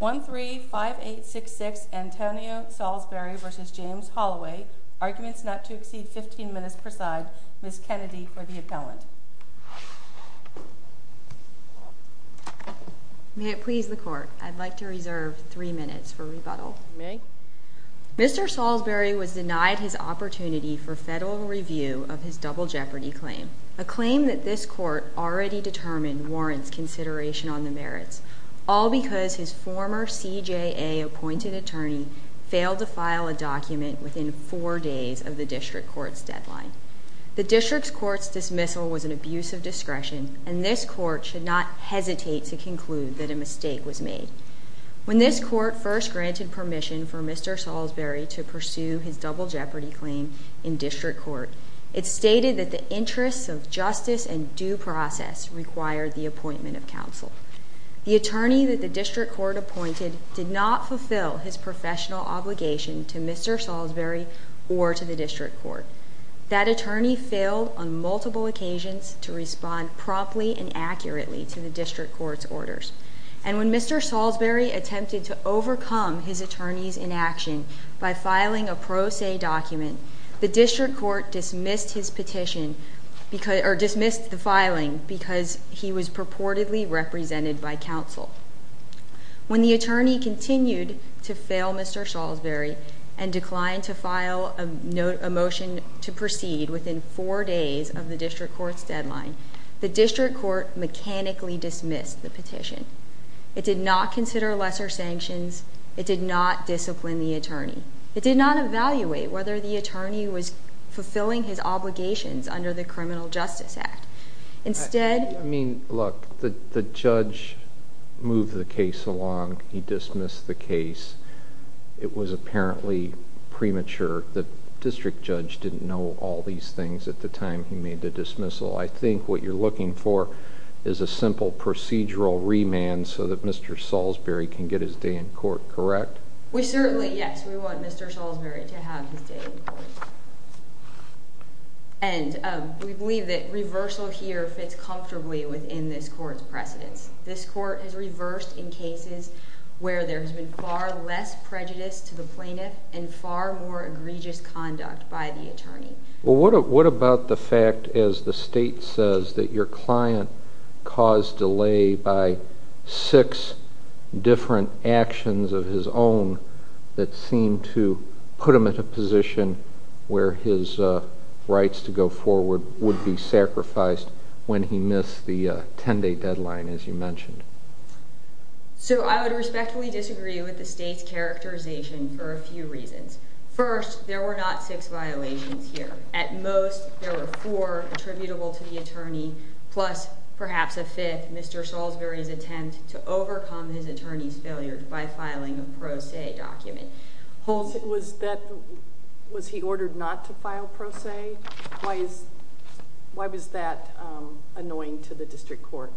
135866 Antonio Saulsberry v. James Holloway Arguments not to exceed 15 minutes per side. Ms. Kennedy for the appellant. May it please the Court, I'd like to reserve three minutes for rebuttal. You may. Mr. Saulsberry was denied his opportunity for federal review of his double jeopardy claim, a claim that this Court already determined warrants consideration on the merits, all because his former CJA-appointed attorney failed to file a document within four days of the District Court's deadline. The District Court's dismissal was an abuse of discretion, and this Court should not hesitate to conclude that a mistake was made. When this Court first granted permission for Mr. Saulsberry to pursue his double jeopardy claim in District Court, it stated that the interests of justice and due process required the appointment of counsel. The attorney that the District Court appointed did not fulfill his professional obligation to Mr. Saulsberry or to the District Court. That attorney failed on multiple occasions to respond promptly and accurately to the District Court's orders. And when Mr. Saulsberry attempted to overcome his attorney's inaction by filing a pro se document, the District Court dismissed the filing because he was purportedly represented by counsel. When the attorney continued to fail Mr. Saulsberry and declined to file a motion to proceed within four days of the District Court's deadline, the District Court mechanically dismissed the petition. It did not consider lesser sanctions. It did not discipline the attorney. It did not evaluate whether the attorney was fulfilling his obligations under the Criminal Justice Act. Instead... I mean, look, the judge moved the case along. He dismissed the case. It was apparently premature. The district judge didn't know all these things at the time he made the dismissal. I think what you're looking for is a simple procedural remand so that Mr. Saulsberry can get his day in court, correct? We certainly, yes, we want Mr. Saulsberry to have his day in court. And we believe that reversal here fits comfortably within this court's precedence. This court has reversed in cases where there has been far less prejudice to the plaintiff and far more egregious conduct by the attorney. Well, what about the fact, as the state says, that your client caused delay by six different actions of his own that seemed to put him in a position where his rights to go forward would be sacrificed when he missed the 10-day deadline, as you mentioned? So I would respectfully disagree with the state's characterization for a few reasons. First, there were not six violations here. At most, there were four attributable to the attorney, plus perhaps a fifth Mr. Saulsberry's attempt to overcome his attorney's failure by filing a pro se document. Was he ordered not to file pro se? Why was that annoying to the district court?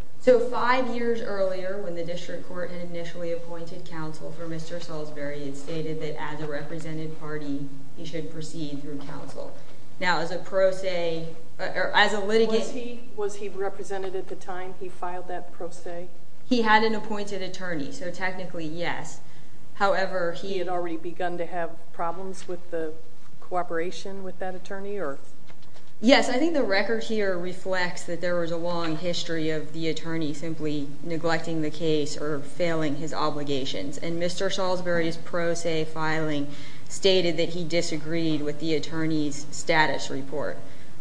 Five years earlier, when the district court had initially appointed counsel for Mr. Saulsberry it stated that as a represented party he should proceed through counsel. Now, as a pro se, as a litigant... Was he represented at the time he filed that pro se? He had an appointed attorney, so technically, yes. However, he had already begun to have problems with the cooperation with that attorney? Yes, I think the record here reflects that there was a long history of the attorney simply neglecting the case or failing his obligations. And Mr. Saulsberry's pro se filing stated that he disagreed with the attorney's status report.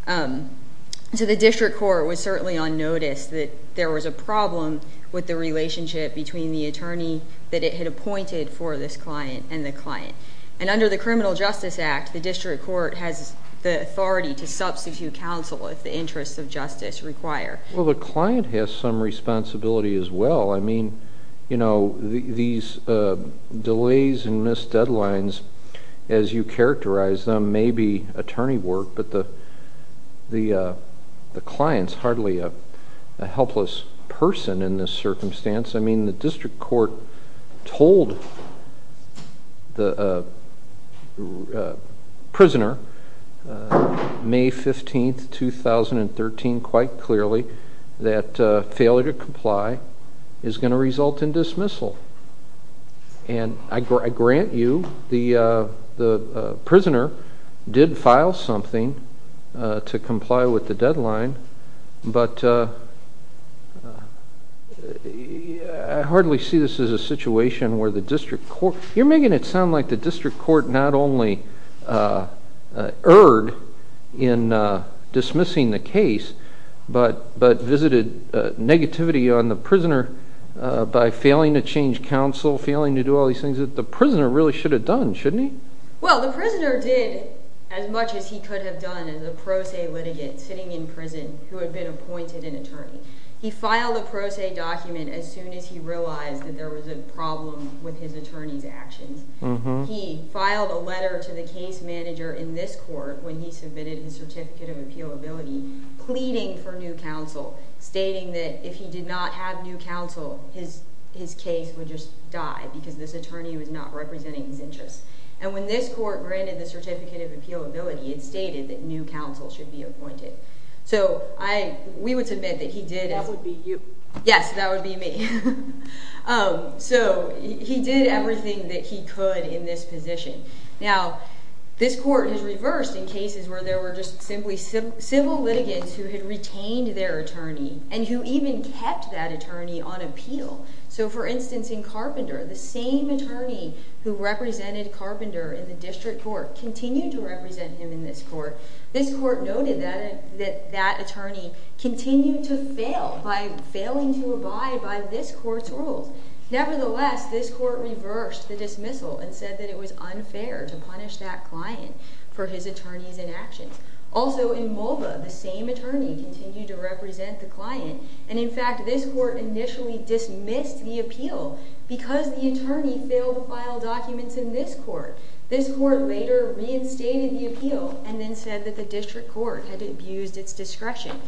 So the district court was certainly on notice that there was a problem with the relationship between the attorney that it had appointed for this client and the client. And under the Criminal Justice Act, the district court has the authority to substitute counsel if the interests of justice require. Well, the client has some responsibility as well. I mean, you know, these delays and missed deadlines, as you characterize them, may be attorney work, but the client's hardly a helpless person in this circumstance. I mean, the district court told the prisoner May 15, 2013 quite clearly that failure to comply is going to result in dismissal. And I grant you the prisoner did file something to comply with the deadline, but I hardly see this as a situation where the district court You're making it sound like the district court not only erred in dismissing the case, but visited negativity on the prisoner by failing to change counsel, failing to do all these things that the prisoner really should have done, shouldn't he? Well, the prisoner did as much as he could have done as a pro se litigant sitting in prison who had been appointed an attorney. He filed a pro se document as soon as he realized that there was a problem with his attorney's actions. He filed a letter to the case manager in this court when he submitted his certificate of appealability pleading for new counsel, stating that if he did not have new counsel, his case would just die because this attorney was not representing his interests. And when this court granted the certificate of appealability, it stated that new counsel should be appointed. So we would submit that he did it. That would be you. Yes, that would be me. So he did everything that he could in this position. Now, this court has reversed in cases where there were just simply civil litigants who had retained their attorney and who even kept that attorney on appeal. So, for instance, in Carpenter, the same attorney who represented Carpenter in the district court continued to represent him in this court. This court noted that that attorney continued to fail by failing to abide by this court's rules. Nevertheless, this court reversed the dismissal and said that it was unfair to punish that client for his attorney's inaction. Also, in Mulva, the same attorney continued to represent the client. And, in fact, this court initially dismissed the appeal because the attorney failed to file documents in this court. This court later reinstated the appeal and then said that the district court had abused its discretion.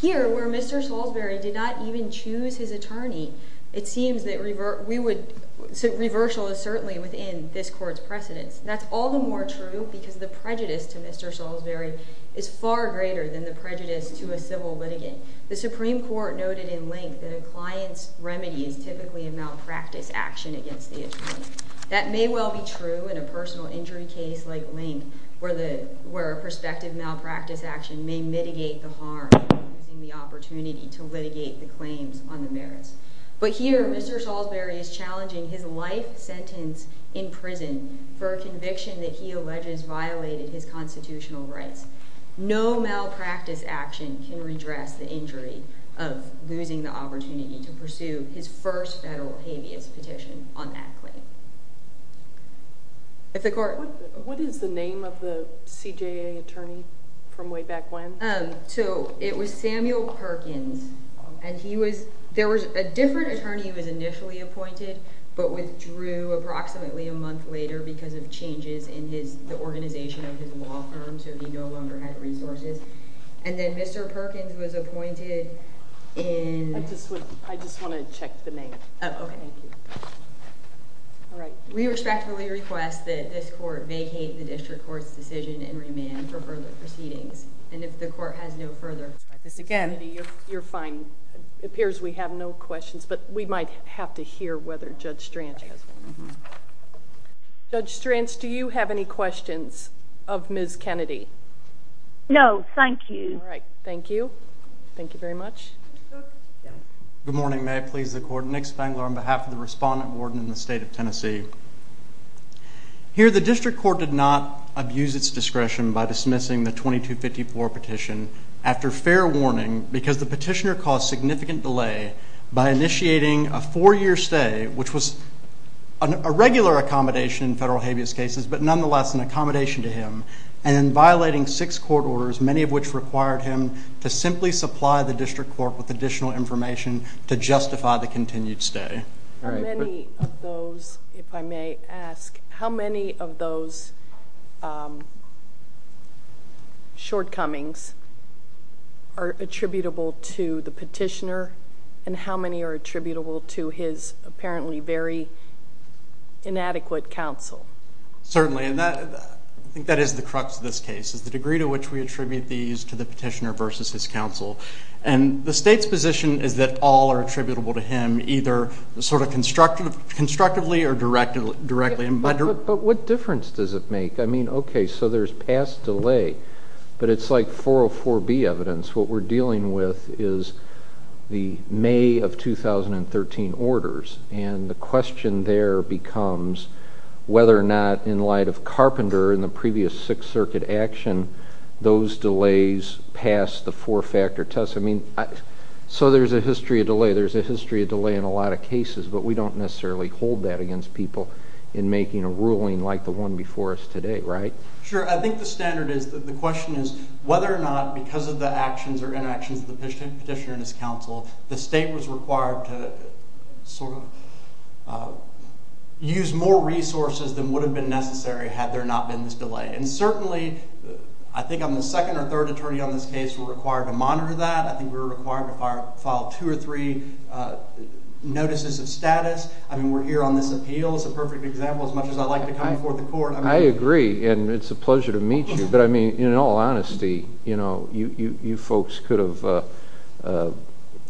Here, where Mr. Salisbury did not even choose his attorney, it seems that reversal is certainly within this court's precedence. That's all the more true because the prejudice to Mr. Salisbury is far greater than the prejudice to a civil litigant. The Supreme Court noted in Link that a client's remedy is typically a malpractice action against the attorney. That may well be true in a personal injury case like Link where a prospective malpractice action may mitigate the harm using the opportunity to litigate the claims on the merits. But here, Mr. Salisbury is challenging his life sentence in prison for a conviction that he alleges violated his constitutional rights. No malpractice action can redress the injury of losing the opportunity to pursue his first federal habeas petition on that claim. What is the name of the CJA attorney from way back when? It was Samuel Perkins. A different attorney was initially appointed but withdrew approximately a month later because of changes in the organization of his law firm. So he no longer had resources. And then Mr. Perkins was appointed in... I just want to check the name. We respectfully request that this court vacate the district court's decision and remand for further proceedings. And if the court has no further... Ms. Kennedy, you're fine. It appears we have no questions, but we might have to hear whether Judge Stranch has one. Judge Stranch, do you have any questions of Ms. Kennedy? No, thank you. All right, thank you. Thank you very much. Good morning. May I please the court? Nick Spangler on behalf of the respondent warden in the state of Tennessee. Here, the district court did not abuse its discretion by dismissing the 2254 petition after fair warning because the petitioner caused significant delay by initiating a four-year stay, which was a regular accommodation in federal habeas cases but nonetheless an accommodation to him, and in violating six court orders, many of which required him to simply supply the district court with additional information to justify the continued stay. How many of those, if I may ask, how many of those shortcomings are attributable to the petitioner and how many are attributable to his apparently very inadequate counsel? Certainly, and I think that is the crux of this case, is the degree to which we attribute these to the petitioner versus his counsel. And the state's position is that all are attributable to him, either sort of constructively or directly. But what difference does it make? I mean, okay, so there's past delay, but it's like 404B evidence. What we're dealing with is the May of 2013 orders, and the question there becomes whether or not, in light of Carpenter and the previous Sixth Circuit action, those delays pass the four-factor test. I mean, so there's a history of delay. There's a history of delay in a lot of cases, but we don't necessarily hold that against people in making a ruling like the one before us today, right? Sure. I think the standard is that the question is whether or not, because of the actions or inactions of the petitioner and his counsel, the state was required to sort of use more resources than would have been necessary had there not been this delay. And certainly, I think I'm the second or third attorney on this case who were required to monitor that. I think we were required to file two or three notices of status. I mean, we're here on this appeal. It's a perfect example, as much as I like to come before the court. I agree, and it's a pleasure to meet you. But, I mean, in all honesty, you folks could have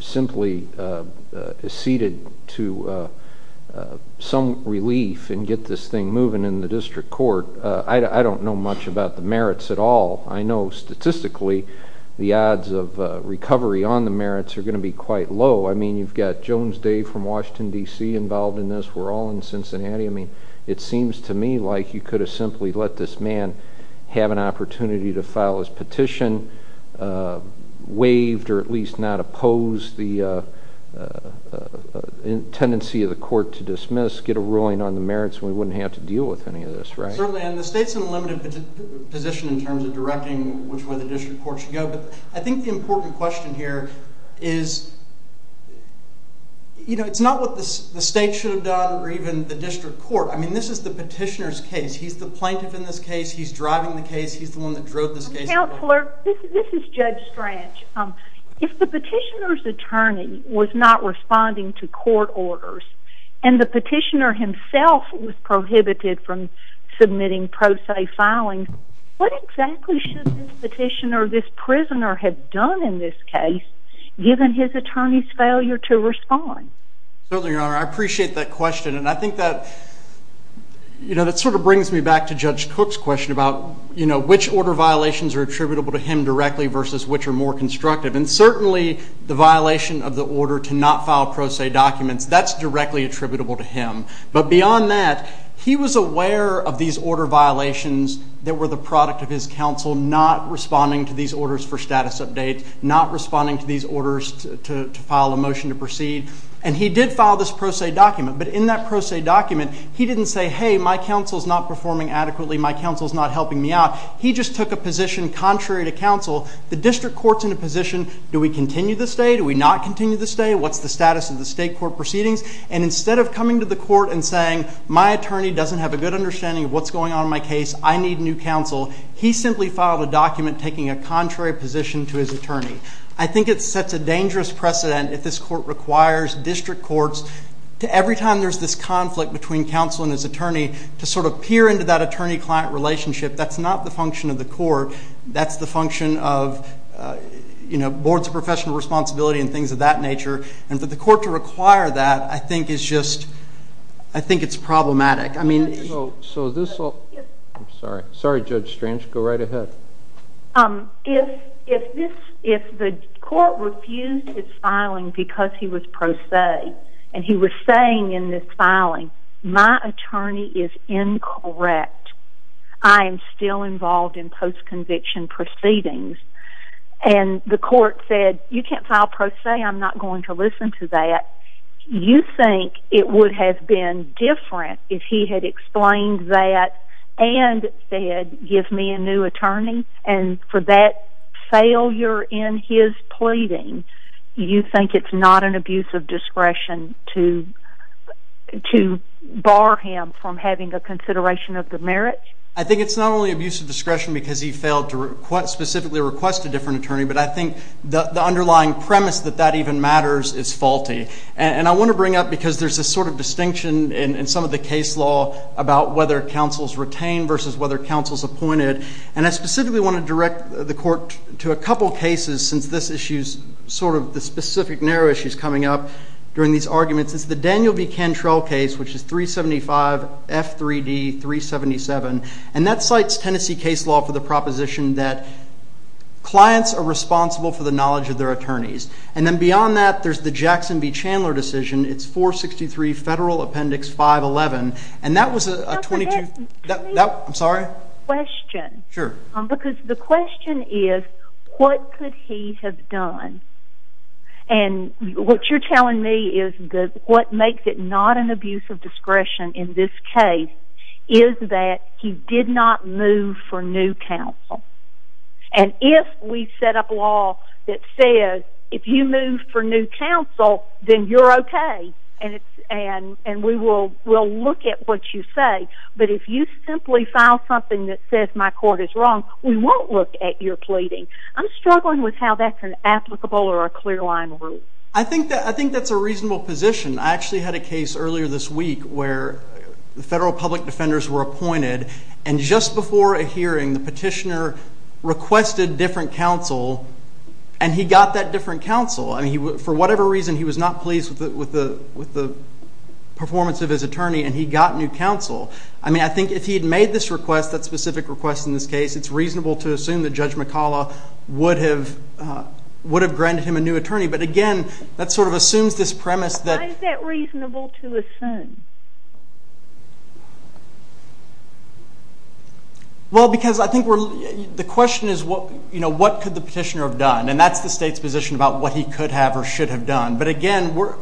simply ceded to some relief and get this thing moving in the district court. I don't know much about the merits at all. I know statistically the odds of recovery on the merits are going to be quite low. I mean, you've got Jones Dave from Washington, D.C. involved in this. We're all in Cincinnati. I mean, it seems to me like you could have simply let this man have an opportunity to file his petition, waived or at least not oppose the tendency of the court to dismiss, get a ruling on the merits, and we wouldn't have to deal with any of this, right? Certainly, and the state's in a limited position in terms of directing which way the district court should go. But I think the important question here is, you know, it's not what the state should have done or even the district court. I mean, this is the petitioner's case. He's the plaintiff in this case. He's driving the case. He's the one that drove this case. Counselor, this is Judge Strach. If the petitioner's attorney was not responding to court orders and the petitioner himself was prohibited from submitting pro se filing, what exactly should this petitioner or this prisoner have done in this case, given his attorney's failure to respond? Certainly, Your Honor. I appreciate that question, and I think that, you know, that sort of brings me back to Judge Cook's question about, you know, which order violations are attributable to him directly versus which are more constructive. And certainly the violation of the order to not file pro se documents, that's directly attributable to him. But beyond that, he was aware of these order violations that were the product of his counsel not responding to these orders for status updates, not responding to these orders to file a motion to proceed. And he did file this pro se document, but in that pro se document, he didn't say, he just took a position contrary to counsel. The district court's in a position, do we continue to stay, do we not continue to stay, what's the status of the state court proceedings? And instead of coming to the court and saying, my attorney doesn't have a good understanding of what's going on in my case, I need new counsel, he simply filed a document taking a contrary position to his attorney. I think it sets a dangerous precedent if this court requires district courts to every time there's this conflict between counsel and his attorney to sort of peer into that attorney-client relationship. That's not the function of the court. That's the function of boards of professional responsibility and things of that nature. And for the court to require that, I think it's problematic. I'm sorry. Sorry, Judge Strange. Go right ahead. If the court refused his filing because he was pro se and he was saying in this filing, my attorney is incorrect, I am still involved in post-conviction proceedings, and the court said, you can't file pro se, I'm not going to listen to that, you think it would have been different if he had explained that and said, give me a new attorney, and for that failure in his pleading, you think it's not an abuse of discretion to bar him from having a consideration of the merits? I think it's not only abuse of discretion because he failed to specifically request a different attorney, but I think the underlying premise that that even matters is faulty. And I want to bring up, because there's this sort of distinction in some of the case law about whether counsel is retained versus whether counsel is appointed, and I specifically want to direct the court to a couple of cases since this issue is sort of the specific narrow issues coming up during these arguments. It's the Daniel B. Cantrell case, which is 375F3D377, and that cites Tennessee case law for the proposition that clients are responsible for the knowledge of their attorneys. And then beyond that, there's the Jackson v. Chandler decision. It's 463 Federal Appendix 511, and that was a 22- Can I ask a question? Sure. Because the question is, what could he have done? And what you're telling me is that what makes it not an abuse of discretion in this case is that he did not move for new counsel. And if we set up law that says if you move for new counsel, then you're okay, and we will look at what you say. But if you simply file something that says my court is wrong, we won't look at your pleading. I'm struggling with how that's an applicable or a clear-line rule. I think that's a reasonable position. I actually had a case earlier this week where the federal public defenders were appointed, and just before a hearing, the petitioner requested different counsel, and he got that different counsel. For whatever reason, he was not pleased with the performance of his attorney, and he got new counsel. I mean, I think if he had made this request, that specific request in this case, it's reasonable to assume that Judge McCalla would have granted him a new attorney. But again, that sort of assumes this premise that- Why is that reasonable to assume? Well, because I think the question is, what could the petitioner have done? And that's the state's position about what he could have or should have done. But again, we're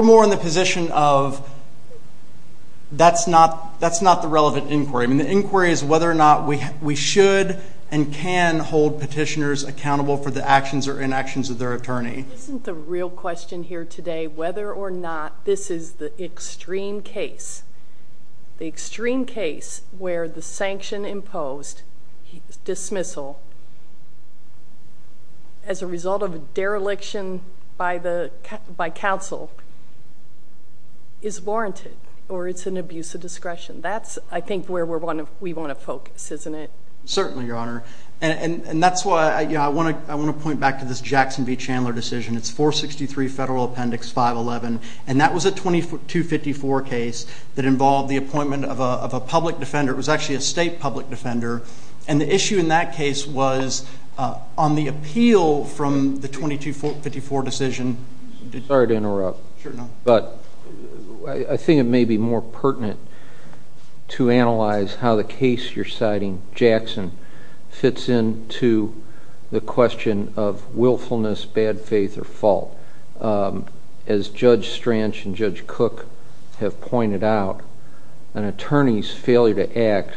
more in the position of that's not the relevant inquiry. I mean, the inquiry is whether or not we should and can hold petitioners accountable for the actions or inactions of their attorney. Isn't the real question here today whether or not this is the extreme case, the extreme case where the sanction imposed dismissal as a result of a dereliction by counsel is warranted or it's an abuse of discretion? That's, I think, where we want to focus, isn't it? Certainly, Your Honor. And that's why I want to point back to this Jackson v. Chandler decision. It's 463 Federal Appendix 511, and that was a 2254 case that involved the appointment of a public defender. It was actually a state public defender. And the issue in that case was on the appeal from the 2254 decision. Sorry to interrupt. Sure. But I think it may be more pertinent to analyze how the case you're citing, Jackson, fits into the question of willfulness, bad faith, or fault. As Judge Stranch and Judge Cook have pointed out, an attorney's failure to act,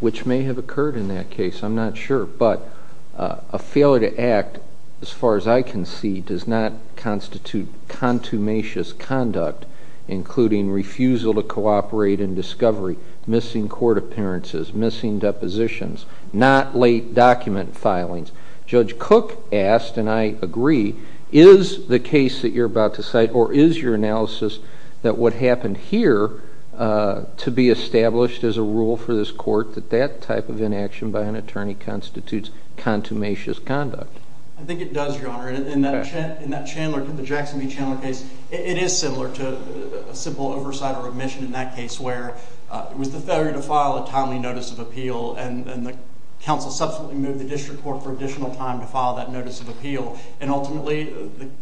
which may have occurred in that case, I'm not sure, but a failure to act, as far as I can see, does not constitute contumacious conduct, including refusal to cooperate in discovery, missing court appearances, missing depositions, not late document filings. Judge Cook asked, and I agree, is the case that you're about to cite or is your analysis that what happened here to be established as a rule for this court, that that type of inaction by an attorney constitutes contumacious conduct? I think it does, Your Honor. In that Chandler, the Jackson v. Chandler case, it is similar to a simple oversight or admission in that case where it was the failure to file a timely notice of appeal, and the counsel subsequently moved the district court for additional time to file that notice of appeal. And ultimately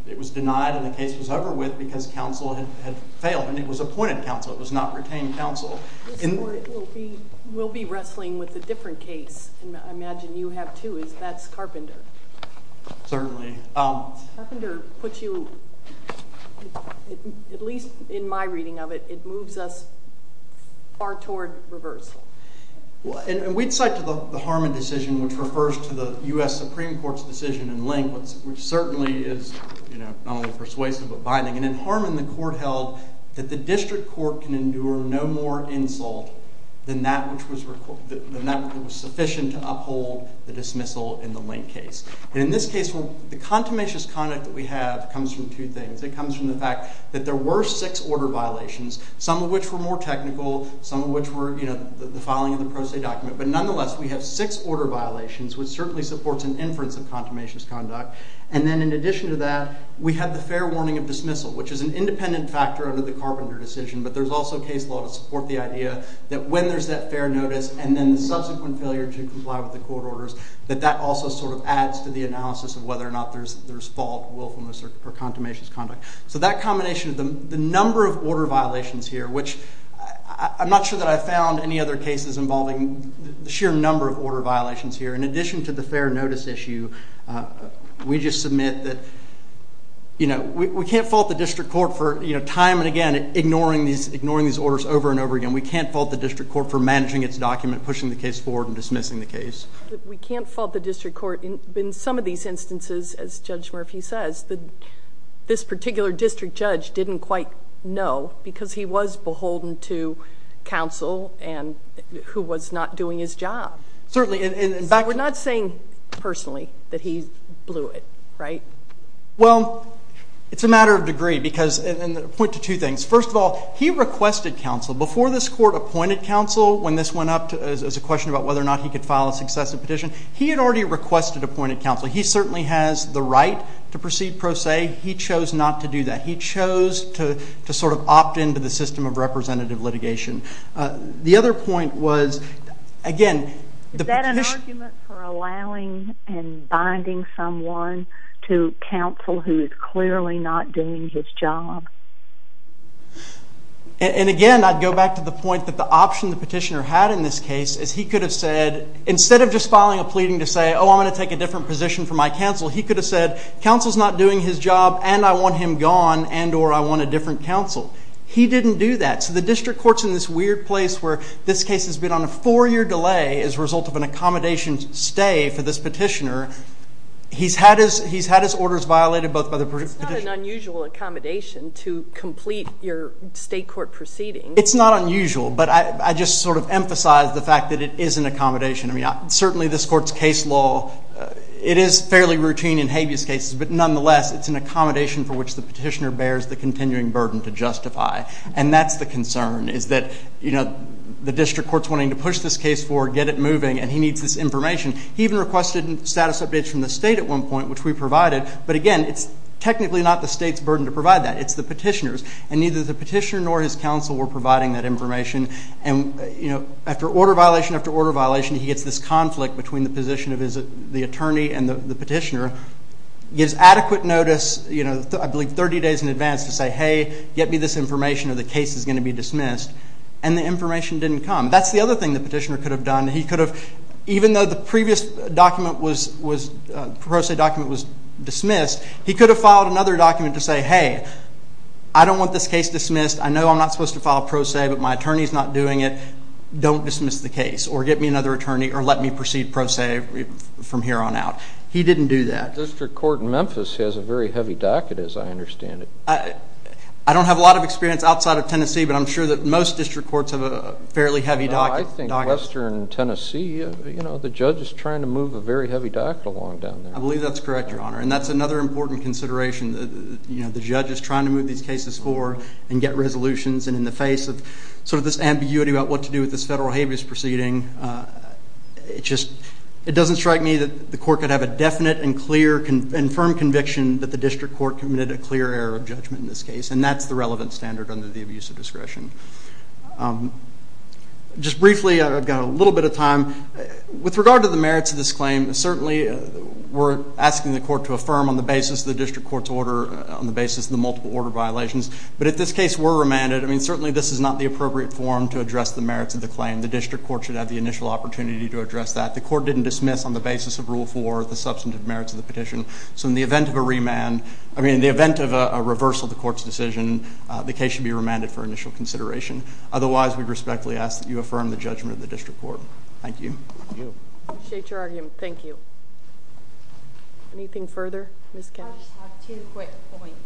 it was denied and the case was over with because counsel had failed, and it was appointed counsel. It was not retained counsel. This court will be wrestling with a different case, and I imagine you have, too. That's Carpenter. Certainly. Carpenter puts you, at least in my reading of it, it moves us far toward reversal. And we'd cite the Harmon decision, which refers to the U.S. Supreme Court's decision in Link, which certainly is not only persuasive but binding. And in Harmon, the court held that the district court can endure no more insult than that which was sufficient to uphold the dismissal in the Link case. And in this case, the contumacious conduct that we have comes from two things. It comes from the fact that there were six order violations, some of which were more technical, some of which were the filing of the pro se document. But nonetheless, we have six order violations, which certainly supports an inference of contumacious conduct. And then in addition to that, we have the fair warning of dismissal, which is an independent factor under the Carpenter decision, but there's also case law to support the idea that when there's that fair notice and then the subsequent failure to comply with the court orders, that that also sort of adds to the analysis of whether or not there's fault, willfulness, or contumacious conduct. So that combination of the number of order violations here, which I'm not sure that I've found any other cases involving the sheer number of order violations here, in addition to the fair notice issue, we just submit that, you know, we can't fault the district court for time and again ignoring these orders over and over again. We can't fault the district court for managing its document, pushing the case forward, and dismissing the case. We can't fault the district court in some of these instances, as Judge Murphy says, that this particular district judge didn't quite know because he was beholden to counsel and who was not doing his job. Certainly. So we're not saying personally that he blew it, right? Well, it's a matter of degree because, and I'll point to two things. First of all, he requested counsel. Before this court appointed counsel when this went up as a question about whether or not he could file a successive petition, he had already requested appointed counsel. He certainly has the right to proceed pro se. He chose not to do that. He chose to sort of opt into the system of representative litigation. The other point was, again. Is that an argument for allowing and binding someone to counsel who is clearly not doing his job? And, again, I'd go back to the point that the option the petitioner had in this case is he could have said, instead of just filing a pleading to say, oh, I'm going to take a different position for my counsel, he could have said, counsel's not doing his job and I want him gone and or I want a different counsel. He didn't do that. So the district court's in this weird place where this case has been on a four-year delay as a result of an accommodation stay for this petitioner. He's had his orders violated both by the petitioner. It's not an unusual accommodation to complete your state court proceeding. It's not unusual, but I just sort of emphasize the fact that it is an accommodation. I mean, certainly this court's case law, it is fairly routine in habeas cases, but nonetheless it's an accommodation for which the petitioner bears the continuing burden to justify. And that's the concern is that the district court's wanting to push this case forward, get it moving, and he needs this information. He even requested status updates from the state at one point, which we provided. But, again, it's technically not the state's burden to provide that. It's the petitioner's. And neither the petitioner nor his counsel were providing that information. And, you know, after order violation after order violation, he gets this conflict between the position of the attorney and the petitioner, gives adequate notice, you know, I believe 30 days in advance to say, hey, get me this information or the case is going to be dismissed. And the information didn't come. That's the other thing the petitioner could have done. He could have, even though the previous document was, the pro se document was dismissed, he could have filed another document to say, hey, I don't want this case dismissed. I know I'm not supposed to file pro se, but my attorney's not doing it. Don't dismiss the case or get me another attorney or let me proceed pro se from here on out. He didn't do that. The district court in Memphis has a very heavy docket, as I understand it. I don't have a lot of experience outside of Tennessee, but I'm sure that most district courts have a fairly heavy docket. I think western Tennessee, you know, the judge is trying to move a very heavy docket along down there. I believe that's correct, Your Honor. And that's another important consideration that, you know, the judge is trying to move these cases for and get resolutions. And in the face of sort of this ambiguity about what to do with this federal habeas proceeding, it just doesn't strike me that the court could have a definite and clear and firm conviction that the district court committed a clear error of judgment in this case, and that's the relevant standard under the abuse of discretion. Just briefly, I've got a little bit of time. With regard to the merits of this claim, certainly we're asking the court to affirm on the basis of the district court's order, on the basis of the multiple order violations. But if this case were remanded, I mean, certainly this is not the appropriate form to address the merits of the claim. The district court should have the initial opportunity to address that. The court didn't dismiss on the basis of Rule 4 the substantive merits of the petition. So in the event of a remand, I mean, in the event of a reversal of the court's decision, the case should be remanded for initial consideration. Otherwise, we respectfully ask that you affirm the judgment of the district court. Thank you. I appreciate your argument. Thank you. Anything further? Ms. Kennedy. I just have two quick points.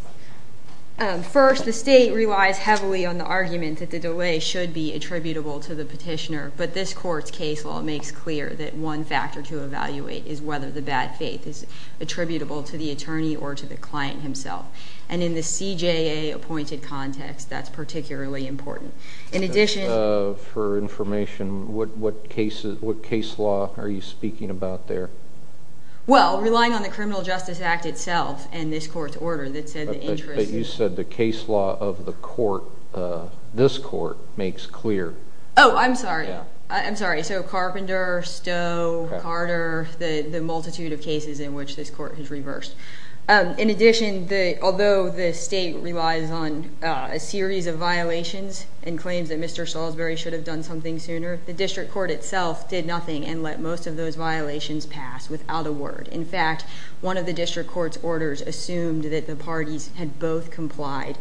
First, the state relies heavily on the argument that the delay should be attributable to the petitioner, but this court's case law makes clear that one factor to evaluate is whether the bad faith is attributable to the attorney or to the client himself. And in the CJA-appointed context, that's particularly important. For information, what case law are you speaking about there? Well, relying on the Criminal Justice Act itself and this court's order that said the interest in But you said the case law of the court, this court, makes clear. Oh, I'm sorry. I'm sorry. So Carpenter, Stowe, Carter, the multitude of cases in which this court has reversed. In addition, although the state relies on a series of violations and claims that Mr. Salisbury should have done something sooner, the district court itself did nothing and let most of those violations pass without a word. In fact, one of the district court's orders assumed that the parties had both complied.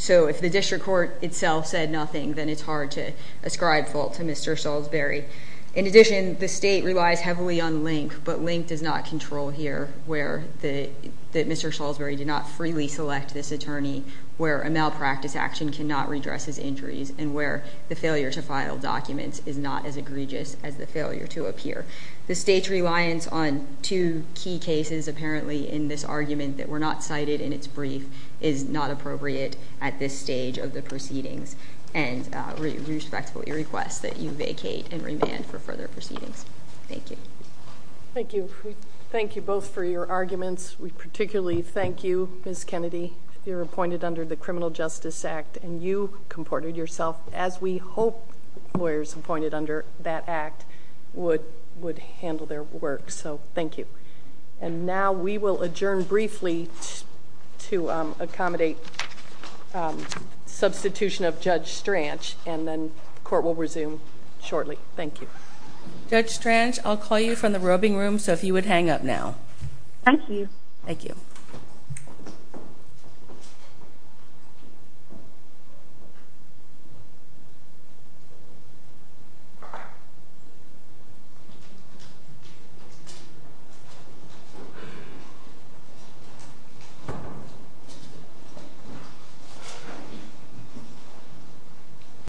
So if the district court itself said nothing, then it's hard to ascribe fault to Mr. Salisbury. In addition, the state relies heavily on link, but link does not control here where Mr. Salisbury did not freely select this attorney, where a malpractice action cannot redress his injuries, and where the failure to file documents is not as egregious as the failure to appear. The state's reliance on two key cases apparently in this argument that were not cited in its brief is not appropriate at this stage of the proceedings. And we respectfully request that you vacate and remand for further proceedings. Thank you. Thank you. Thank you both for your arguments. We particularly thank you, Ms. Kennedy. You're appointed under the Criminal Justice Act, and you comported yourself as we hope lawyers appointed under that act would handle their work. So thank you. And now we will adjourn briefly to accommodate substitution of Judge Stranch, and then the court will resume shortly. Thank you. Judge Stranch, I'll call you from the robing room, so if you would hang up now. Thank you. Thank you. Thank you.